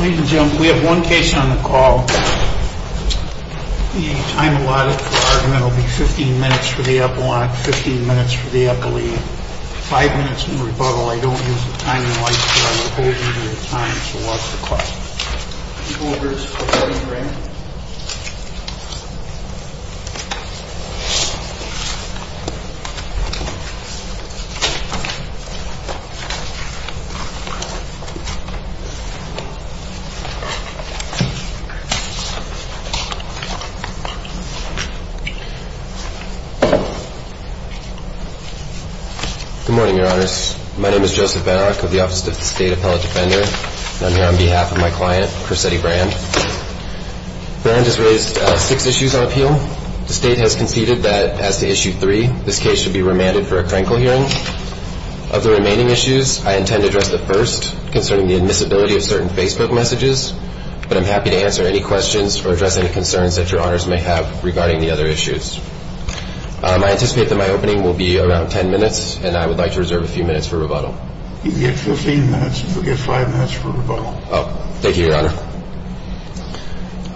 Ladies and gentlemen, we have one case on the call. The time allotted for argument will be 15 minutes for the up-and-walk, 15 minutes for the up-and-lead, 5 minutes in rebuttal. I don't use the time in lights, but I will hold you to the time, so watch the clock. People, please report in the room. Good morning, Your Honors. My name is Joseph Van Arck of the Office of the State Appellate Defender, and I'm here on behalf of my client, Corsetti Brand. Brand has raised six issues on appeal. The State has conceded that, as to Issue 3, this case should be remanded for a crankle hearing. Of the remaining issues, I intend to address the first, concerning the admissibility of certain Facebook messages, but I'm happy to answer any questions or address any concerns that Your Honors may have regarding the other issues. I anticipate that my opening will be around 10 minutes, and I would like to reserve a few minutes for rebuttal. You can get 15 minutes, but you'll get 5 minutes for rebuttal. Thank you, Your Honor.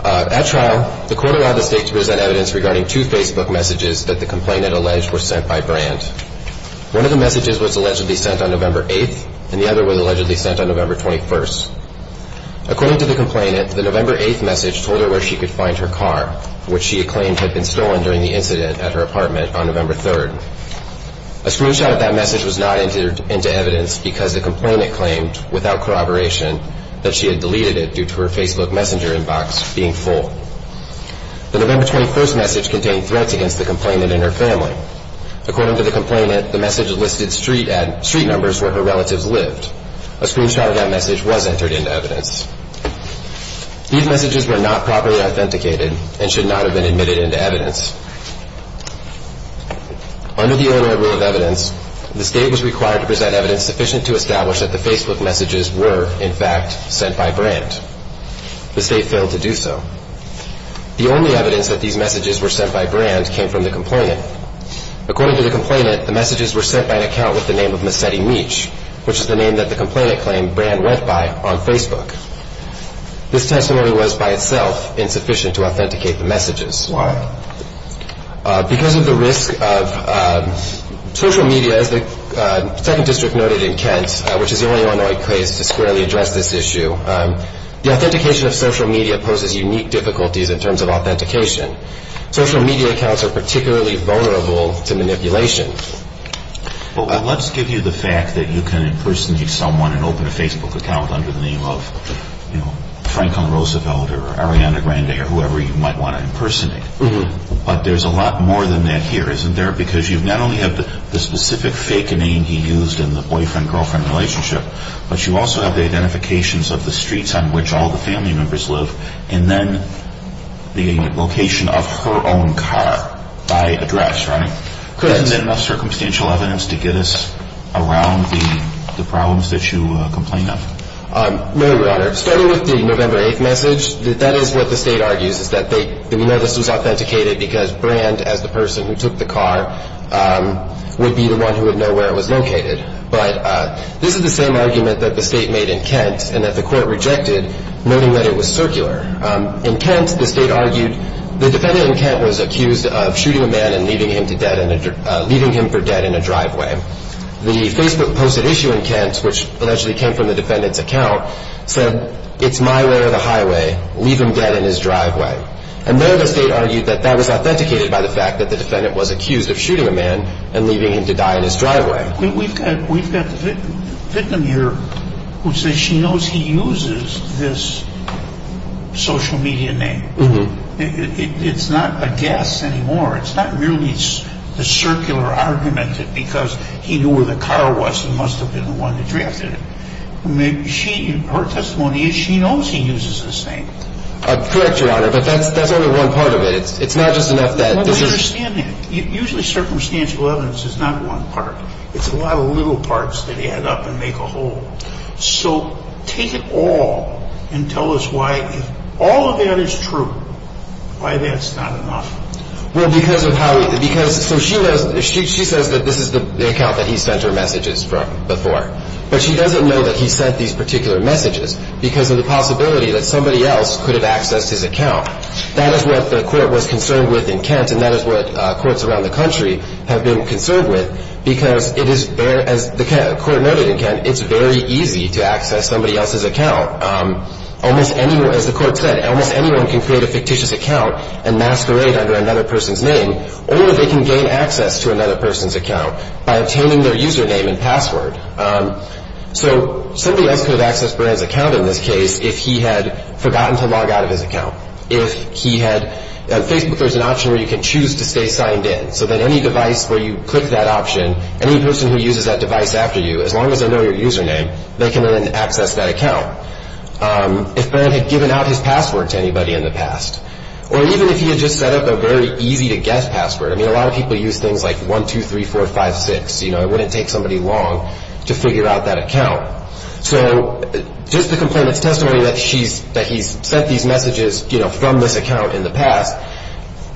At trial, the court allowed the State to present evidence regarding two Facebook messages that the complainant alleged were sent by Brand. One of the messages was allegedly sent on November 8th, and the other was allegedly sent on November 21st. According to the complainant, the November 8th message told her where she could find her car, which she claimed had been stolen during the incident at her apartment on November 3rd. A screenshot of that message was not entered into evidence because the complainant claimed, without corroboration, that she had deleted it due to her Facebook messenger inbox being full. The November 21st message contained threats against the complainant and her family. According to the complainant, the message listed street numbers where her relatives lived. A screenshot of that message was entered into evidence. These messages were not properly authenticated and should not have been admitted into evidence. Under the Illinois Rule of Evidence, the State was required to present evidence sufficient to establish that the Facebook messages were, in fact, sent by Brand. The State failed to do so. The only evidence that these messages were sent by Brand came from the complainant. According to the complainant, the messages were sent by an account with the name of Missetti Meech, which is the name that the complainant claimed Brand went by on Facebook. This testimony was, by itself, insufficient to authenticate the messages. Why? Because of the risk of social media. As the 2nd District noted in Kent, which is the only Illinois case to squarely address this issue, the authentication of social media poses unique difficulties in terms of authentication. Social media accounts are particularly vulnerable to manipulation. Well, let's give you the fact that you can impersonate someone and open a Facebook account under the name of, you know, Franklin Roosevelt or Ariana Grande or whoever you might want to impersonate. But there's a lot more than that here, isn't there? Because you not only have the specific fake name he used in the boyfriend-girlfriend relationship, but you also have the identifications of the streets on which all the family members live and then the location of her own car by address, right? Correct. Isn't there enough circumstantial evidence to get us around the problems that you complain of? No, Your Honor. Starting with the November 8th message, that is what the State argues, is that they know this was authenticated because Brand, as the person who took the car, would be the one who would know where it was located. But this is the same argument that the State made in Kent and that the Court rejected, noting that it was circular. In Kent, the State argued, the defendant in Kent was accused of shooting a man and leaving him for dead in a driveway. The Facebook posted issue in Kent, which allegedly came from the defendant's account, said, it's my way or the highway, leave him dead in his driveway. And there the State argued that that was authenticated by the fact that the defendant was accused of shooting a man and leaving him to die in his driveway. We've got the victim here who says she knows he uses this social media name. It's not a guess anymore. It's not merely a circular argument that because he knew where the car was, it must have been the one who drafted it. Her testimony is she knows he uses this name. Correct, Your Honor, but that's only one part of it. It's not just enough that this is... I understand that. Usually, circumstantial evidence is not one part. It's a lot of little parts that add up and make a whole. So take it all and tell us why, if all of that is true, why that's not enough. Well, because of how he – because – so she knows – she says that this is the account that he sent her messages from before. But she doesn't know that he sent these particular messages because of the possibility that somebody else could have accessed his account. That is what the court was concerned with in Kent, and that is what courts around the country have been concerned with, because it is – as the court noted in Kent, it's very easy to access somebody else's account. Almost anyone – as the court said, almost anyone can create a fictitious account and masquerade under another person's name, or they can gain access to another person's account by obtaining their username and password. So somebody else could have accessed Baran's account in this case if he had forgotten to log out of his account. If he had – Facebook, there's an option where you can choose to stay signed in, so that any device where you click that option, any person who uses that device after you, as long as they know your username, they can then access that account. If Baran had given out his password to anybody in the past, or even if he had just set up a very easy-to-guess password – I mean, a lot of people use things like 1-2-3-4-5-6. It wouldn't take somebody long to figure out that account. So just the complainant's testimony that he's sent these messages from this account in the past,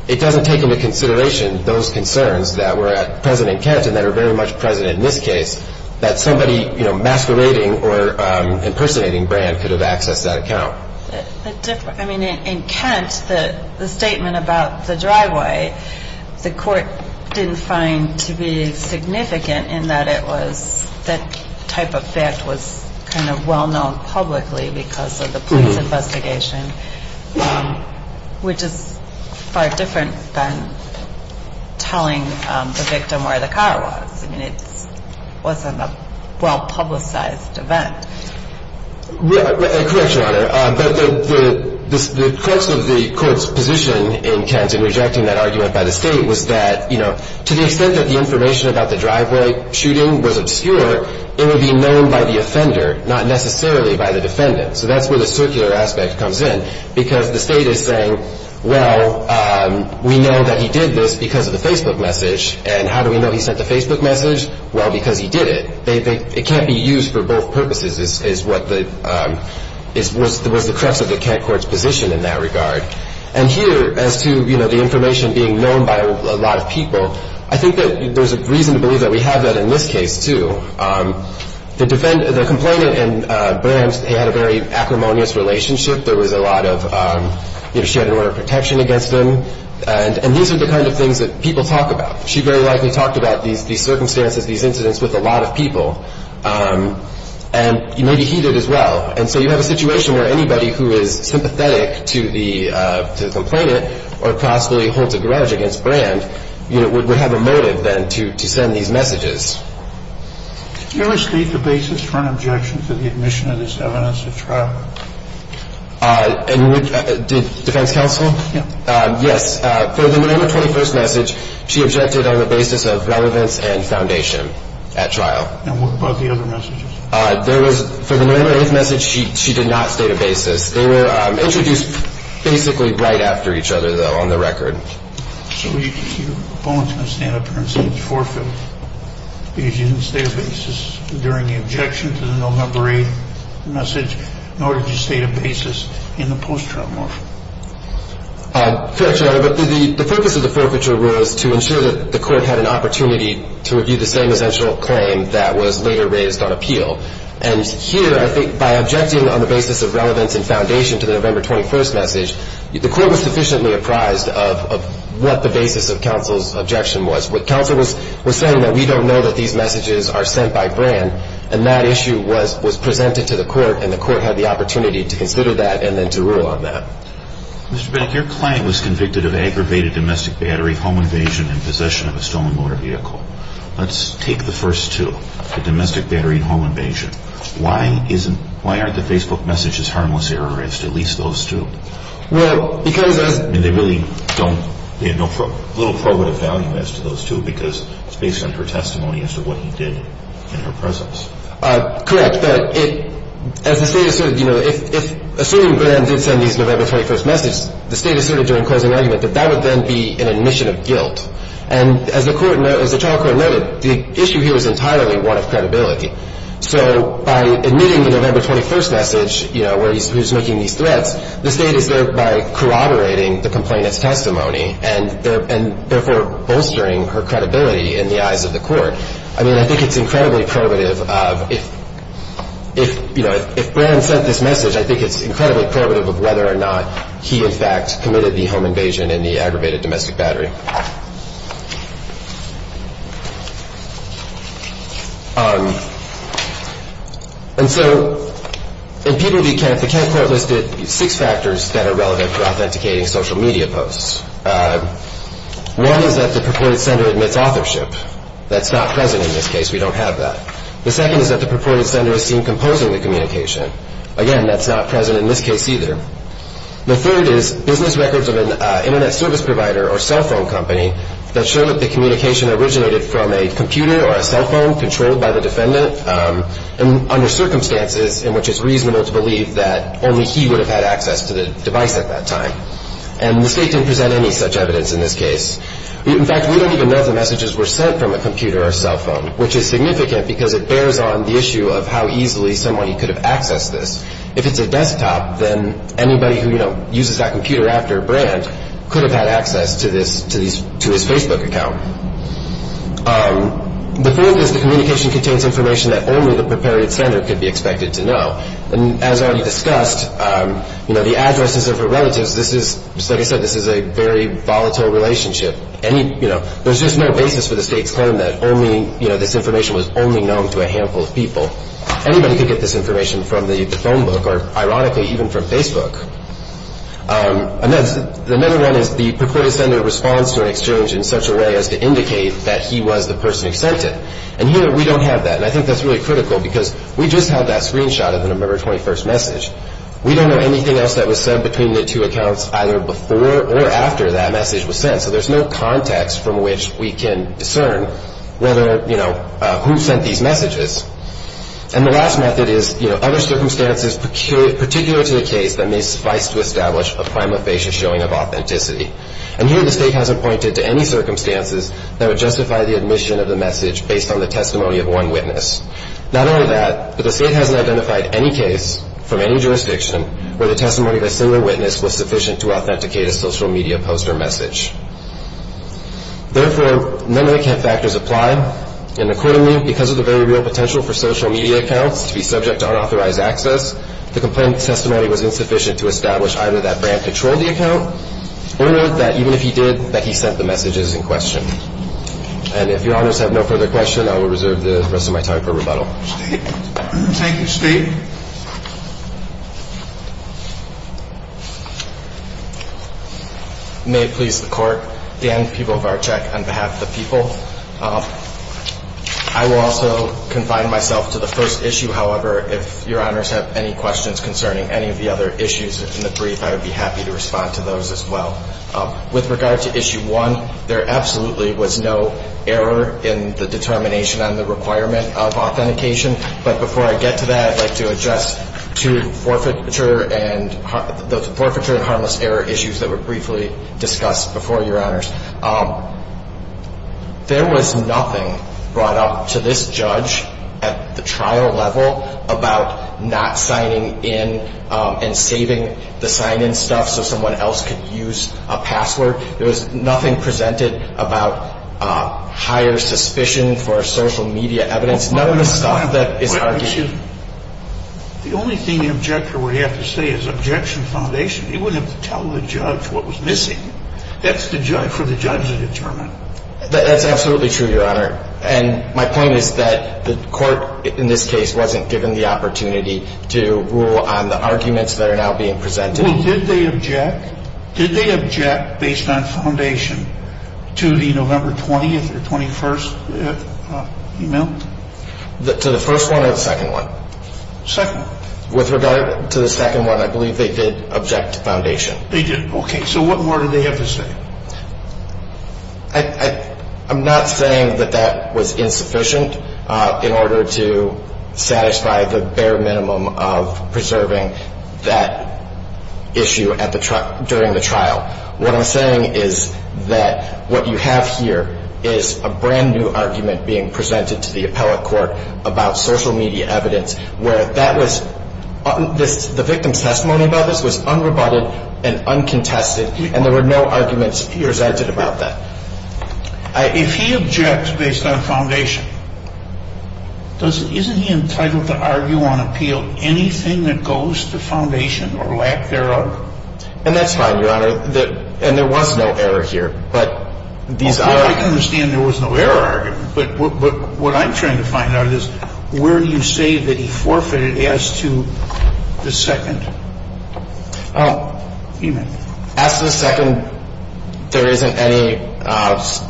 it doesn't take into consideration those concerns that were at present in Kent and that are very much present in this case that somebody masquerading or impersonating Baran could have accessed that account. I mean, in Kent, the statement about the driveway, the court didn't find to be significant in that it was – that type of fact was kind of well-known publicly because of the police investigation, which is far different than telling the victim where the car was. I mean, it wasn't a well-publicized event. Correct, Your Honor. But the course of the court's position in Kent in rejecting that argument by the state was that, you know, to the extent that the information about the driveway shooting was obscure, it would be known by the offender, not necessarily by the defendant. So that's where the circular aspect comes in because the state is saying, well, we know that he did this because of the Facebook message, and how do we know he sent the Facebook message? Well, because he did it. It can't be used for both purposes is what the – was the crux of the Kent court's position in that regard. And here, as to, you know, the information being known by a lot of people, I think that there's a reason to believe that we have that in this case, too. The defendant – the complainant and Baran, they had a very acrimonious relationship. There was a lot of – you know, she had an order of protection against them. And these are the kind of things that people talk about. And so you have a situation where anybody who is sympathetic to the complainant or possibly holds a grudge against Baran, you know, would have a motive, then, to send these messages. Can you restate the basis for an objection to the admission of this evidence at trial? And would – did defense counsel? Yes. Yes. And what about the other messages? There was – for the November 8th message, she did not state a basis. They were introduced basically right after each other, though, on the record. So your opponent's going to stand up here and say it's forfeit because you didn't state a basis during the objection to the November 8th message, nor did you state a basis in the post-trial morphing. Correct, Your Honor. But the focus of the forfeiture was to ensure that the court had an opportunity to review the same essential claim that was later raised on appeal. And here, I think by objecting on the basis of relevance and foundation to the November 21st message, the court was sufficiently apprised of what the basis of counsel's objection was. Counsel was saying that we don't know that these messages are sent by Baran, and that issue was presented to the court, and the court had the opportunity to consider that and then to rule on that. Mr. Beck, your client was convicted of aggravated domestic battery, home invasion, and possession of a stolen motor vehicle. Let's take the first two, the domestic battery and home invasion. Why isn't – why aren't the Facebook messages harmless error as to at least those two? Well, because as – I mean, they really don't – they have no – little probative value as to those two because it's based on her testimony as to what he did in her presence. Correct. But it – as the State asserted, you know, if – assuming Baran did send these November 21st messages, the State asserted during closing argument that that would then be an admission of guilt. And as the court – as the trial court noted, the issue here is entirely one of credibility. So by admitting the November 21st message, you know, where he's – who's making these threats, the State is thereby corroborating the complainant's testimony and therefore bolstering her credibility in the eyes of the court. I mean, I think it's incredibly probative of – if, you know, if Baran sent this message, I think it's incredibly probative of whether or not he, in fact, committed the home invasion and the aggravated domestic battery. And so in Peabody Kent, the Kent court listed six factors that are relevant for authenticating social media posts. One is that the purported sender admits authorship. That's not present in this case. We don't have that. The second is that the purported sender is seen composing the communication. Again, that's not present in this case either. The third is business records of an internet service provider or cell phone company that show that the communication originated from a computer or a cell phone controlled by the defendant and under circumstances in which it's reasonable to believe that only he would have had access to the device at that time. And the state didn't present any such evidence in this case. In fact, we don't even know if the messages were sent from a computer or a cell phone, which is significant because it bears on the issue of how easily someone could have accessed this. If it's a desktop, then anybody who, you know, uses that computer after a brand could have had access to this – to his Facebook account. The fourth is the communication contains information that only the purported sender could be expected to know. As already discussed, you know, the addresses of her relatives, this is – like I said, this is a very volatile relationship. Any – you know, there's just no basis for the state's claim that only, you know, this information was only known to a handful of people. Anybody could get this information from the phone book or, ironically, even from Facebook. Another one is the purported sender responds to an exchange in such a way as to indicate that he was the person accepted. And here we don't have that. And I think that's really critical because we just had that screenshot of the November 21st message. We don't know anything else that was said between the two accounts either before or after that message was sent. So there's no context from which we can discern whether, you know, who sent these messages. And the last method is, you know, other circumstances peculiar – particular to the case that may suffice to establish a prima facie showing of authenticity. And here the state hasn't pointed to any circumstances that would justify the admission of the message based on the testimony of one witness. Not only that, but the state hasn't identified any case from any jurisdiction where the testimony of a single witness was sufficient to authenticate a social media post or message. Therefore, none of the factors apply. And accordingly, because of the very real potential for social media accounts to be subject to unauthorized access, the complaint testimony was insufficient to establish either that Brandt controlled the account or that even if he did, that he sent the messages in question. And if Your Honors have no further questions, I will reserve the rest of my time for rebuttal. Thank you, Steve. May it please the Court. Dan Pivovarczyk on behalf of the people. I will also confine myself to the first issue, however, if Your Honors have any questions concerning any of the other issues in the brief, I would be happy to respond to those as well. With regard to issue one, there absolutely was no error in the determination on the requirement of authentication. But before I get to that, I'd like to address two forfeiture and harmless error issues that were briefly discussed before, Your Honors. There was nothing brought up to this judge at the trial level about not signing in and saving the sign-in stuff so someone else could use a password. There was nothing presented about higher suspicion for social media evidence. The only thing the objector would have to say is objection foundation. He wouldn't have to tell the judge what was missing. That's for the judge to determine. That's absolutely true, Your Honor. And my point is that the court in this case wasn't given the opportunity to rule on the arguments that are now being presented. Well, did they object? Did they object based on foundation to the November 20th or 21st email? To the first one or the second one? Second. With regard to the second one, I believe they did object to foundation. They did. Okay. So what more do they have to say? I'm not saying that that was insufficient in order to satisfy the bare minimum of preserving that issue during the trial. What I'm saying is that what you have here is a brand-new argument being presented to the appellate court about social media evidence where the victim's testimony about this was unrebutted and uncontested, and there were no arguments presented about that. If he objects based on foundation, isn't he entitled to argue on appeal anything that goes to foundation or lack thereof? And that's fine, Your Honor. And there was no error here. But these are – I can understand there was no error argument. But what I'm trying to find out is where do you say that he forfeited as to the second email? As to the second, there isn't any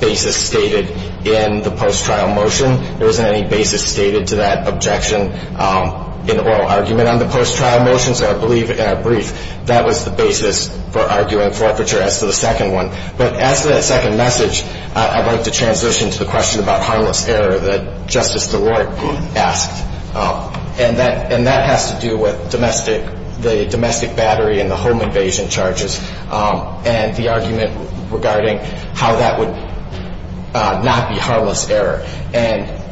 basis stated in the post-trial motion. There isn't any basis stated to that objection in the oral argument on the post-trial motion. So I believe in our brief, that was the basis for arguing forfeiture as to the second one. But as to that second message, I'd like to transition to the question about harmless error that Justice DeWart asked. And that has to do with the domestic battery and the home invasion charges and the argument regarding how that would not be harmless error. And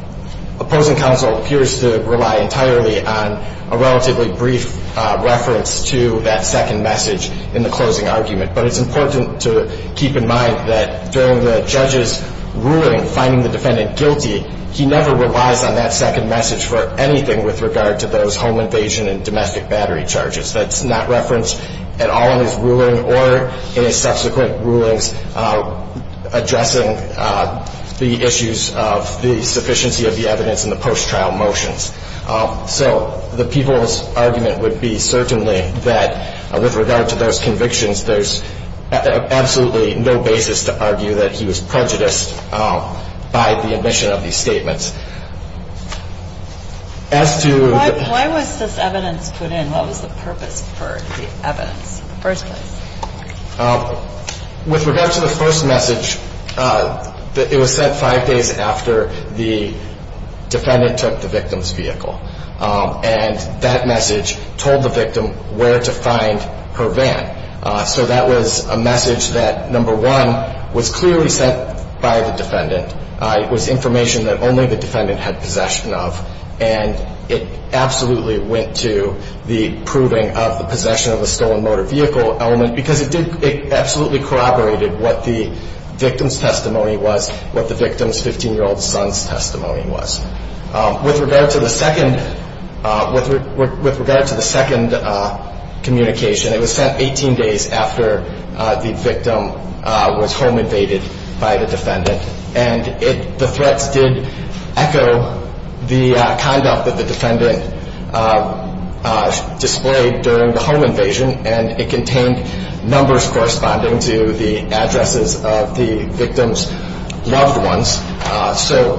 opposing counsel appears to rely entirely on a relatively brief reference to that second message in the closing argument. But it's important to keep in mind that during the judge's ruling finding the defendant guilty, he never relies on that second message for anything with regard to those home invasion and domestic battery charges that's not referenced at all in his ruling or in his subsequent rulings addressing the issues of the sufficiency of the evidence in the post-trial motions. So the people's argument would be certainly that with regard to those convictions, there's absolutely no basis to argue that he was prejudiced by the admission of these statements. As to the- Why was this evidence put in? What was the purpose for the evidence in the first place? With regard to the first message, it was sent five days after the defendant took the victim's vehicle. And that message told the victim where to find her van. So that was a message that, number one, was clearly sent by the defendant. It was information that only the defendant had possession of. And it absolutely went to the proving of the possession of the stolen motor vehicle element because it absolutely corroborated what the victim's testimony was, what the victim's 15-year-old son's testimony was. With regard to the second communication, it was sent 18 days after the victim was home invaded by the defendant. And the threats did echo the conduct that the defendant displayed during the home invasion, and it contained numbers corresponding to the addresses of the victim's loved ones. So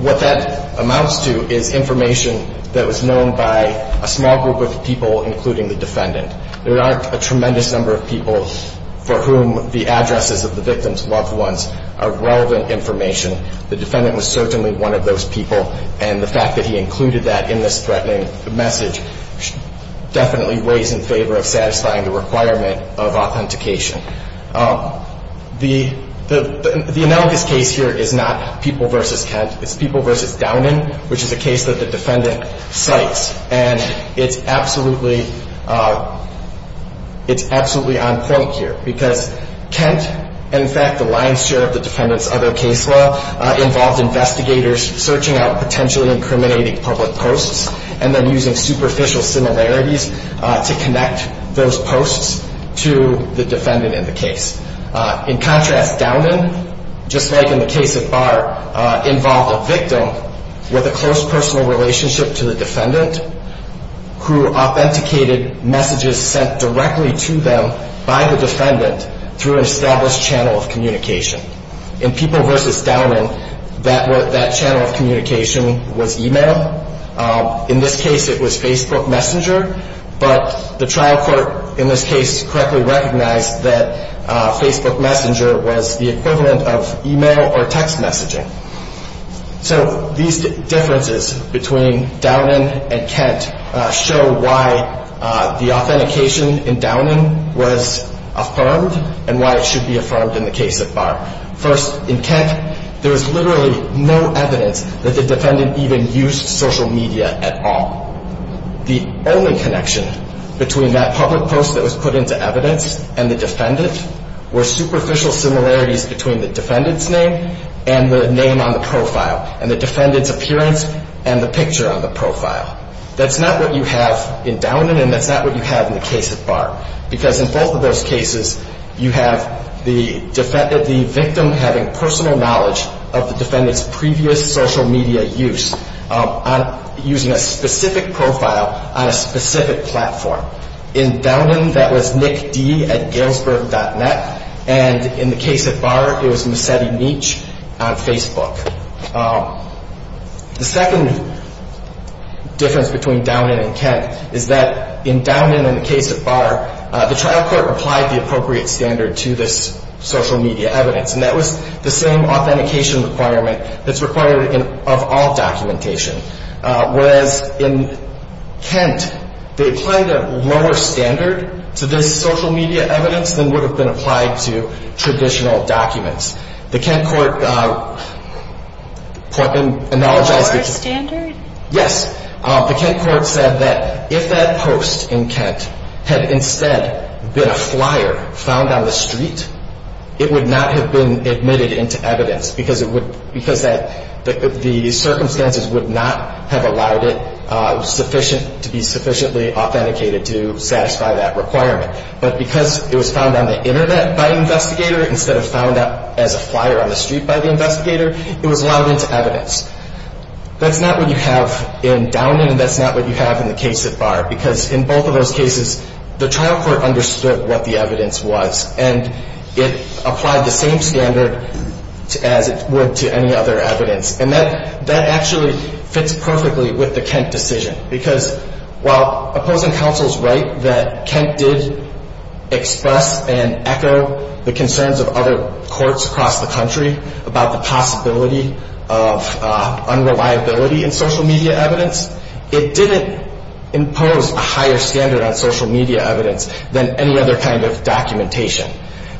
what that amounts to is information that was known by a small group of people, including the defendant. There aren't a tremendous number of people for whom the addresses of the victim's loved ones are relevant information. The defendant was certainly one of those people, and the fact that he included that in this threatening message definitely weighs in favor of satisfying the requirement of authentication. The analogous case here is not People v. Kent. It's People v. Downing, which is a case that the defendant cites. And it's absolutely on point here because Kent, in fact, the lion's share of the defendant's other case law, involved investigators searching out potentially incriminating public posts and then using superficial similarities to connect those posts to the defendant in the case. In contrast, Downing, just like in the case of Barr, involved a victim with a close personal relationship to the defendant who authenticated messages sent directly to them by the defendant through an established channel of communication. In People v. Downing, that channel of communication was email. In this case, it was Facebook Messenger, but the trial court in this case correctly recognized that Facebook Messenger was the equivalent of email or text messaging. So these differences between Downing and Kent show why the authentication in Downing was affirmed and why it should be affirmed in the case of Barr. First, in Kent, there was literally no evidence that the defendant even used social media at all. The only connection between that public post that was put into evidence and the defendant were superficial similarities between the defendant's name and the name on the profile and the defendant's appearance and the picture on the profile. That's not what you have in Downing and that's not what you have in the case of Barr because in both of those cases, you have the victim having personal knowledge of the defendant's previous social media use using a specific profile on a specific platform. In Downing, that was NickD at Galesburg.net, and in the case of Barr, it was Missetti Meech on Facebook. The second difference between Downing and Kent is that in Downing and the case of Barr, the trial court applied the appropriate standard to this social media evidence, and that was the same authentication requirement that's required of all documentation. Whereas in Kent, they applied a lower standard to this social media evidence than would have been applied to traditional documents. The Kent court said that if that post in Kent had instead been a flyer found on the street, it would not have been admitted into evidence because the circumstances would not have allowed it to be sufficiently authenticated to satisfy that requirement. But because it was found on the Internet by an investigator instead of found at the court, as a flyer on the street by the investigator, it was allowed into evidence. That's not what you have in Downing, and that's not what you have in the case of Barr, because in both of those cases, the trial court understood what the evidence was, and it applied the same standard as it would to any other evidence. And that actually fits perfectly with the Kent decision, because while opposing counsels write that Kent did express and echo the concerns of other courts across the country about the possibility of unreliability in social media evidence, it didn't impose a higher standard on social media evidence than any other kind of documentation.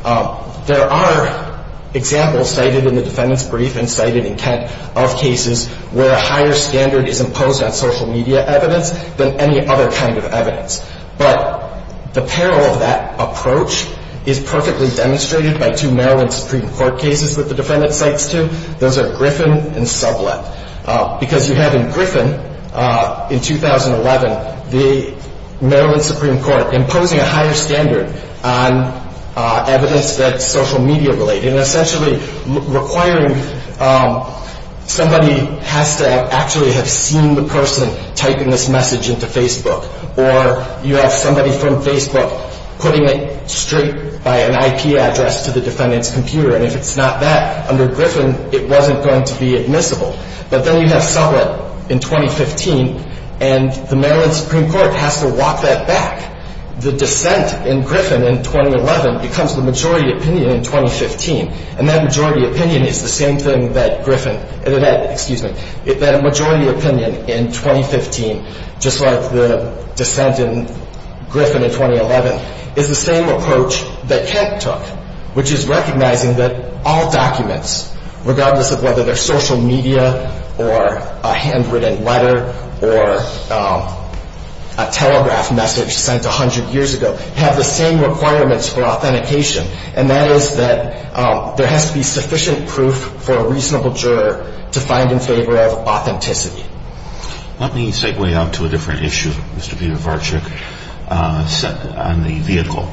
There are examples cited in the defendant's brief and cited in Kent of cases where a higher standard is imposed on social media evidence than any other kind of evidence. But the peril of that approach is perfectly demonstrated by two Maryland Supreme Court cases that the defendant cites two. Those are Griffin and Sublett, because you have in Griffin in 2011 the Maryland Supreme Court imposing a higher standard on evidence that's social media-related and essentially requiring somebody has to actually have seen the person typing this message into Facebook or you have somebody from Facebook putting it straight by an IP address to the defendant's computer. And if it's not that, under Griffin, it wasn't going to be admissible. But then you have Sublett in 2015, and the Maryland Supreme Court has to walk that back. The dissent in Griffin in 2011 becomes the majority opinion in 2015, and that majority opinion is the same thing that Griffin – excuse me – that majority opinion in 2015, just like the dissent in Griffin in 2011, is the same approach that Kent took, which is recognizing that all documents, regardless of whether they're social media or a handwritten letter or a telegraph message sent 100 years ago, have the same requirements for authentication, and that is that there has to be sufficient proof for a reasonable juror to find in favor of authenticity. Let me segue out to a different issue, Mr. Petervarchuk, on the vehicle.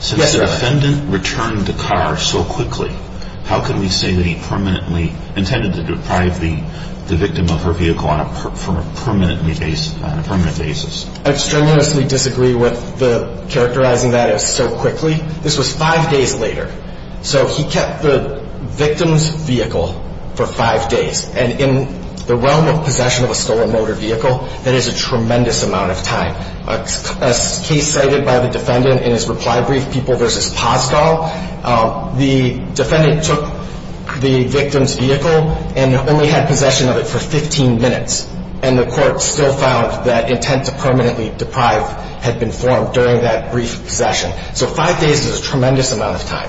Yes, Your Honor. Since the defendant returned the car so quickly, how can we say that he permanently intended to deprive the victim of her vehicle on a permanent basis? I extremely disagree with characterizing that as so quickly. This was five days later, so he kept the victim's vehicle for five days, and in the realm of possession of a stolen motor vehicle, that is a tremendous amount of time. A case cited by the defendant in his reply brief, People v. Paschall, the defendant took the victim's vehicle and only had possession of it for 15 minutes, and the court still found that intent to permanently deprive had been formed during that brief possession. So five days is a tremendous amount of time.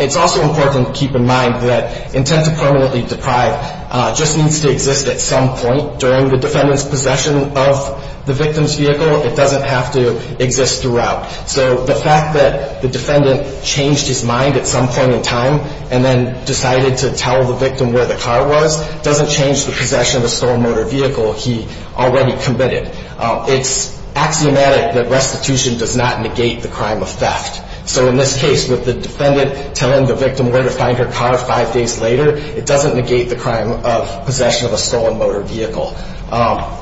It's also important to keep in mind that intent to permanently deprive just needs to exist at some point. During the defendant's possession of the victim's vehicle, it doesn't have to exist throughout. So the fact that the defendant changed his mind at some point in time and then decided to tell the victim where the car was doesn't change the possession of a stolen motor vehicle he already committed. It's axiomatic that restitution does not negate the crime of theft. So in this case, with the defendant telling the victim where to find her car five days later, it doesn't negate the crime of possession of a stolen motor vehicle.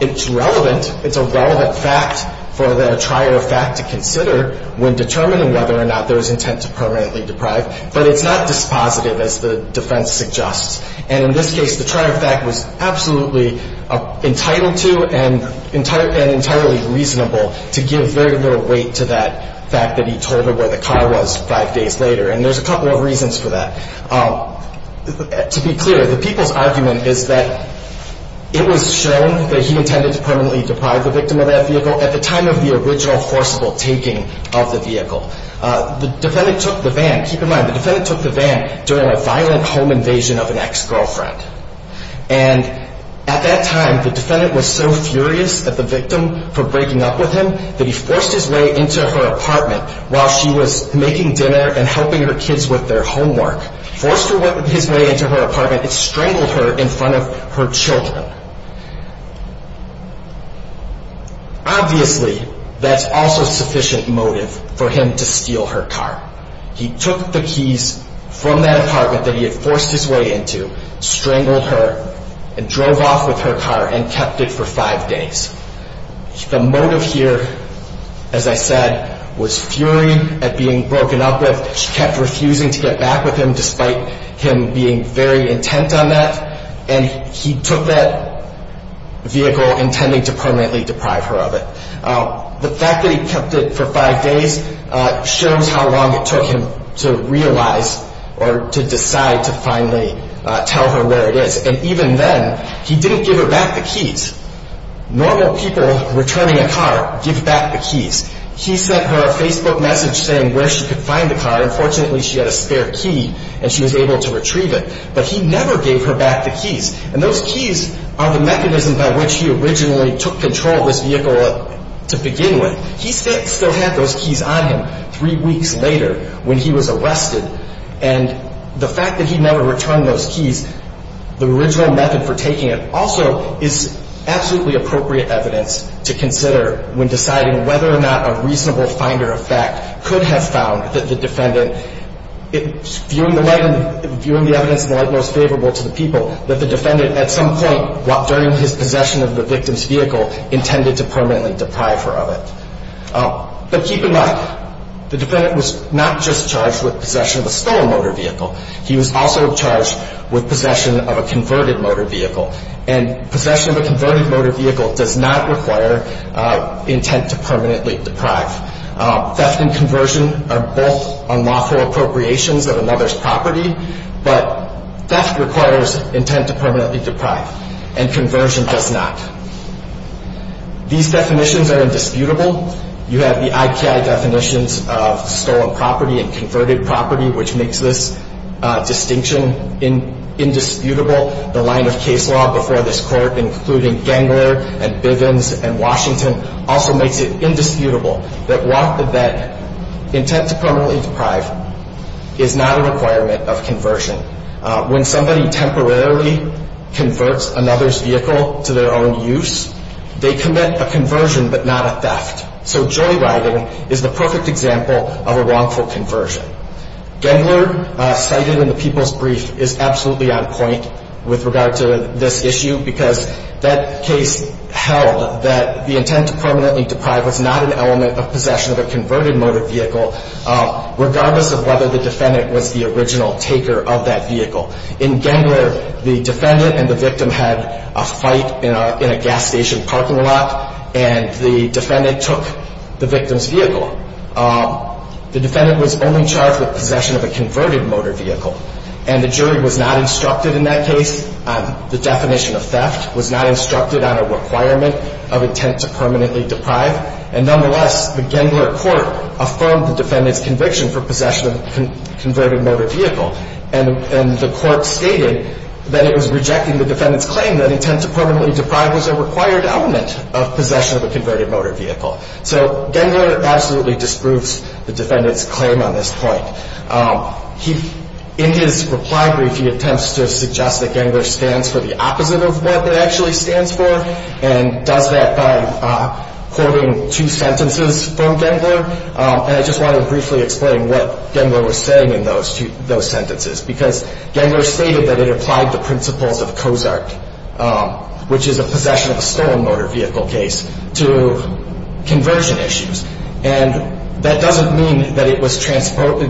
It's relevant, it's a relevant fact for the trier of fact to consider when determining whether or not there was intent to permanently deprive, but it's not dispositive as the defense suggests. And in this case, the trier of fact was absolutely entitled to and entirely reasonable to give very little weight to that fact that he told her where the car was five days later. And there's a couple of reasons for that. To be clear, the people's argument is that it was shown that he intended to permanently deprive the victim of that vehicle at the time of the original forcible taking of the vehicle. The defendant took the van, keep in mind, the defendant took the van during a violent home invasion of an ex-girlfriend. And at that time, the defendant was so furious at the victim for breaking up with him that he forced his way into her apartment while she was making dinner and helping her kids with their homework. Forced his way into her apartment, it strangled her in front of her children. Obviously, that's also sufficient motive for him to steal her car. He took the keys from that apartment that he had forced his way into, strangled her, and drove off with her car and kept it for five days. The motive here, as I said, was fury at being broken up with. She kept refusing to get back with him despite him being very intent on that. And he took that vehicle intending to permanently deprive her of it. The fact that he kept it for five days shows how long it took him to realize or to decide to finally tell her where it is. And even then, he didn't give her back the keys. Normal people returning a car give back the keys. He sent her a Facebook message saying where she could find the car. Unfortunately, she had a spare key and she was able to retrieve it. But he never gave her back the keys. And those keys are the mechanism by which he originally took control of this vehicle to begin with. He still had those keys on him three weeks later when he was arrested. And the fact that he never returned those keys, the original method for taking it, also is absolutely appropriate evidence to consider when deciding whether or not a reasonable finder of fact could have found that the defendant, viewing the evidence in the light most favorable to the people, that the defendant at some point during his possession of the victim's vehicle intended to permanently deprive her of it. But keep in mind, the defendant was not just charged with possession of a stolen motor vehicle. He was also charged with possession of a converted motor vehicle. And possession of a converted motor vehicle does not require intent to permanently deprive. Theft and conversion are both unlawful appropriations of a mother's property. But theft requires intent to permanently deprive. And conversion does not. These definitions are indisputable. You have the IKI definitions of stolen property and converted property, which makes this distinction indisputable. The line of case law before this Court, including Gengler and Bivens and Washington, also makes it indisputable that walk the bed intent to permanently deprive is not a requirement of conversion. When somebody temporarily converts another's vehicle to their own use, they commit a conversion but not a theft. So joyriding is the perfect example of a wrongful conversion. Gengler, cited in the People's Brief, is absolutely on point with regard to this issue because that case held that the intent to permanently deprive was not an element of possession of a converted motor vehicle, regardless of whether the defendant was the original taker of that vehicle. In Gengler, the defendant and the victim had a fight in a gas station parking lot, and the defendant took the victim's vehicle. The defendant was only charged with possession of a converted motor vehicle, and the jury was not instructed in that case on the definition of theft, was not instructed on a requirement of intent to permanently deprive. And nonetheless, the Gengler Court affirmed the defendant's conviction for possession of a converted motor vehicle. And the Court stated that it was rejecting the defendant's claim that intent to permanently deprive was a required element of possession of a converted motor vehicle. So Gengler absolutely disproves the defendant's claim on this point. In his reply brief, he attempts to suggest that Gengler stands for the opposite of what it actually stands for and does that by quoting two sentences from Gengler. And I just wanted to briefly explain what Gengler was saying in those sentences, because Gengler stated that it applied the principles of COSARC, which is a possession of a stolen motor vehicle case, to conversion issues. And that doesn't mean that it was transferring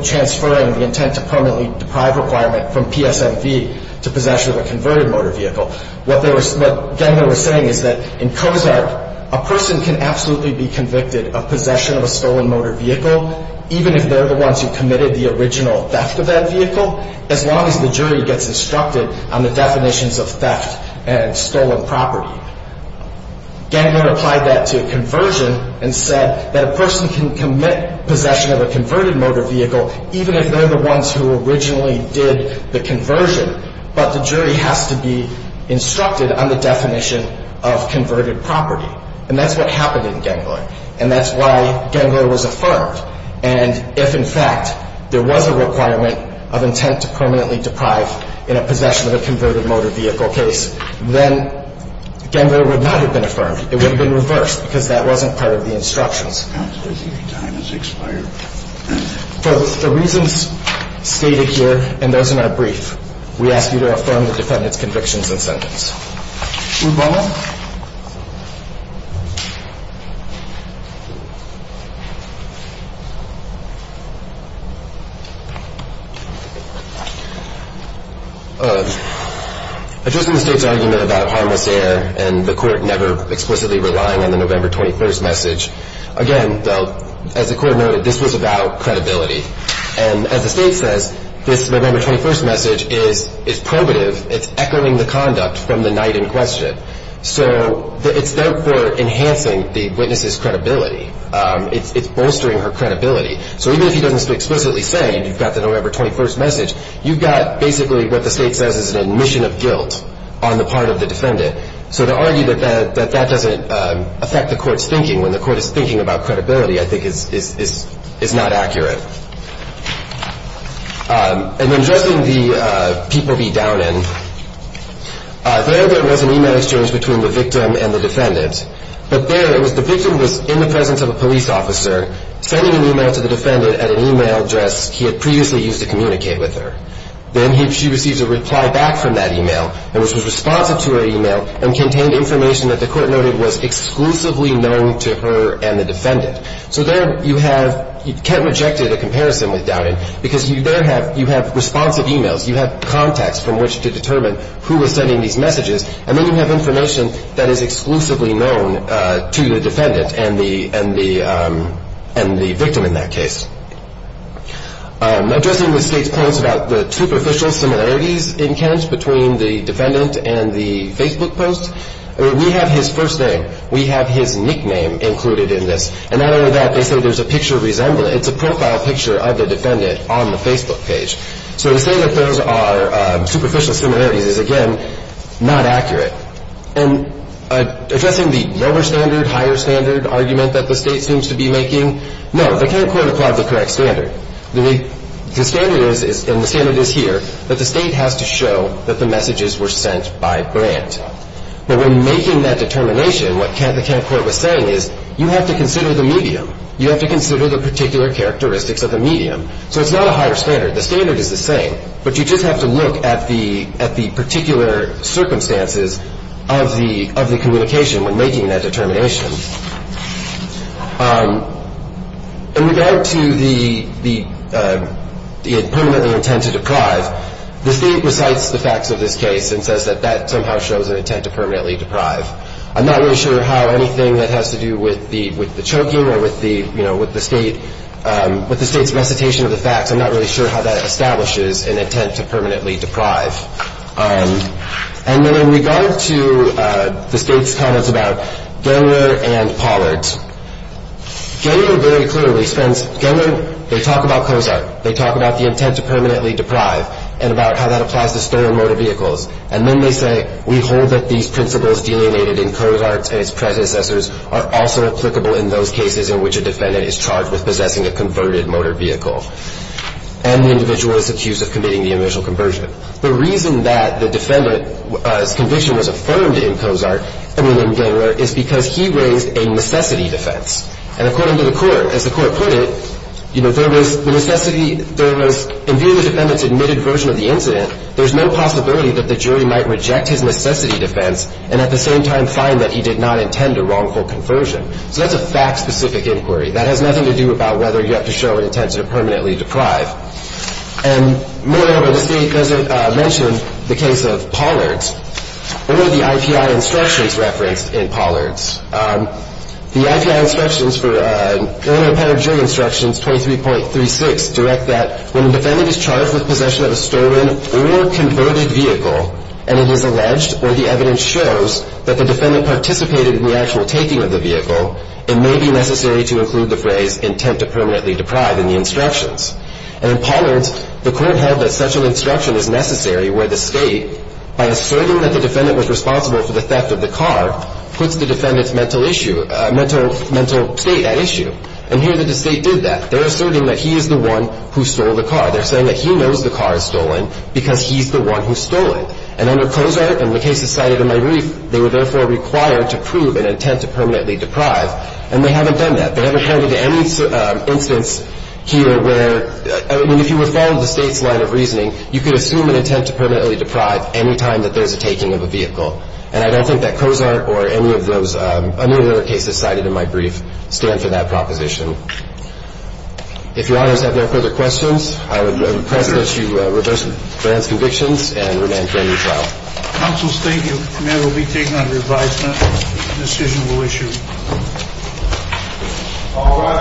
the intent to permanently deprive requirement from PSMV to possession of a converted motor vehicle. What Gengler was saying is that in COSARC, a person can absolutely be convicted of possession of a stolen motor vehicle, even if they're the ones who committed the original theft of that vehicle, as long as the jury gets instructed on the definitions of theft and stolen property. Gengler applied that to conversion and said that a person can commit possession of a converted motor vehicle, even if they're the ones who originally did the conversion, but the jury has to be instructed on the definition of converted property. And that's what happened in Gengler. And that's why Gengler was affirmed. And if, in fact, there was a requirement of intent to permanently deprive in a possession of a converted motor vehicle case, then Gengler would not have been affirmed. It would have been reversed, because that wasn't part of the instructions. Counsel, your time has expired. For the reasons stated here and those in our brief, we ask you to affirm the defendant's convictions and sentence. Move on. Addressing the State's argument about harmless error and the Court never explicitly relying on the November 21st message, again, as the Court noted, this was about credibility. And as the State says, this November 21st message is probative. It's echoing the conduct from the night in question. So it's, therefore, enhancing the witness's credibility. It's bolstering her credibility. So even if he doesn't explicitly say you've got the November 21st message, you've got basically what the State says is an admission of guilt on the part of the defendant. So to argue that that doesn't affect the Court's thinking when the Court is thinking about credibility, I think, is not accurate. And then addressing the People v. Downen. There, there was an e-mail exchange between the victim and the defendant. But there, it was the victim was in the presence of a police officer, sending an e-mail to the defendant at an e-mail address he had previously used to communicate with her. Then she receives a reply back from that e-mail, which was responsive to her e-mail and contained information that the Court noted was exclusively known to her and the defendant. So there you have, Kent rejected a comparison with Downen because there you have responsive e-mails. You have contacts from which to determine who was sending these messages. And then you have information that is exclusively known to the defendant and the victim in that case. Addressing the State's points about the superficial similarities in Kent between the defendant and the Facebook post, we have his first name. We have his nickname included in this. And not only that, they say there's a picture resemblance. It's a profile picture of the defendant on the Facebook page. So to say that those are superficial similarities is, again, not accurate. And addressing the lower standard, higher standard argument that the State seems to be making, no, the Kent Court applied the correct standard. The standard is, and the standard is here, that the State has to show that the messages were sent by grant. But when making that determination, what the Kent Court was saying is you have to consider the medium. You have to consider the particular characteristics of the medium. So it's not a higher standard. The standard is the same, but you just have to look at the particular circumstances of the communication when making that determination. In regard to the permanently intent to deprive, the State recites the facts of this case and says that that somehow shows an intent to permanently deprive. I'm not really sure how anything that has to do with the choking or with the State's recitation of the facts, I'm not really sure how that establishes an intent to permanently deprive. And then in regard to the State's comments about Gellner and Pollard, Gellner very clearly spends, Gellner, they talk about Cozart, they talk about the intent to permanently deprive and about how that applies to stolen motor vehicles. And then they say we hold that these principles delineated in Cozart and its predecessors are also applicable in those cases in which a defendant is charged with possessing a converted motor vehicle and the individual is accused of committing the initial conversion. The reason that the defendant's conviction was affirmed in Cozart and in Gellner is because he raised a necessity defense. And according to the Court, as the Court put it, you know, there was the necessity, there was, in view of the defendant's admitted version of the incident, there's no possibility that the jury might reject his necessity defense and at the same time find that he did not intend a wrongful conversion. So that's a fact-specific inquiry. That has nothing to do about whether you have to show an intent to permanently deprive. And moreover, the State doesn't mention the case of Pollard's or the IPI instructions referenced in Pollard's. The IPI instructions for Illinois Penitentiary Instructions 23.36 direct that when a defendant is charged with possession of a stolen or converted vehicle and it is alleged or the evidence shows that the defendant participated in the actual taking of the vehicle, it may be necessary to include the phrase intent to permanently deprive in the instructions. And in Pollard's, the Court held that such an instruction is necessary where the State, by asserting that the defendant was responsible for the theft of the car, puts the defendant's mental issue, mental state at issue. And here the State did that. They're asserting that he is the one who stole the car. They're saying that he knows the car is stolen because he's the one who stole it. And under Cozart, and the case is cited in my brief, they were therefore required to prove an intent to permanently deprive, and they haven't done that. They haven't handed any instance here where, I mean, if you were following the State's line of reasoning, you could assume an intent to permanently deprive any time that there's a taking of a vehicle. And I don't think that Cozart or any of those other cases cited in my brief stand for that proposition. If Your Honors have no further questions, I would request that you reverse Grant's convictions and remain for a new trial. Counsel, thank you. The matter will be taken under advisement. The decision will issue. All right.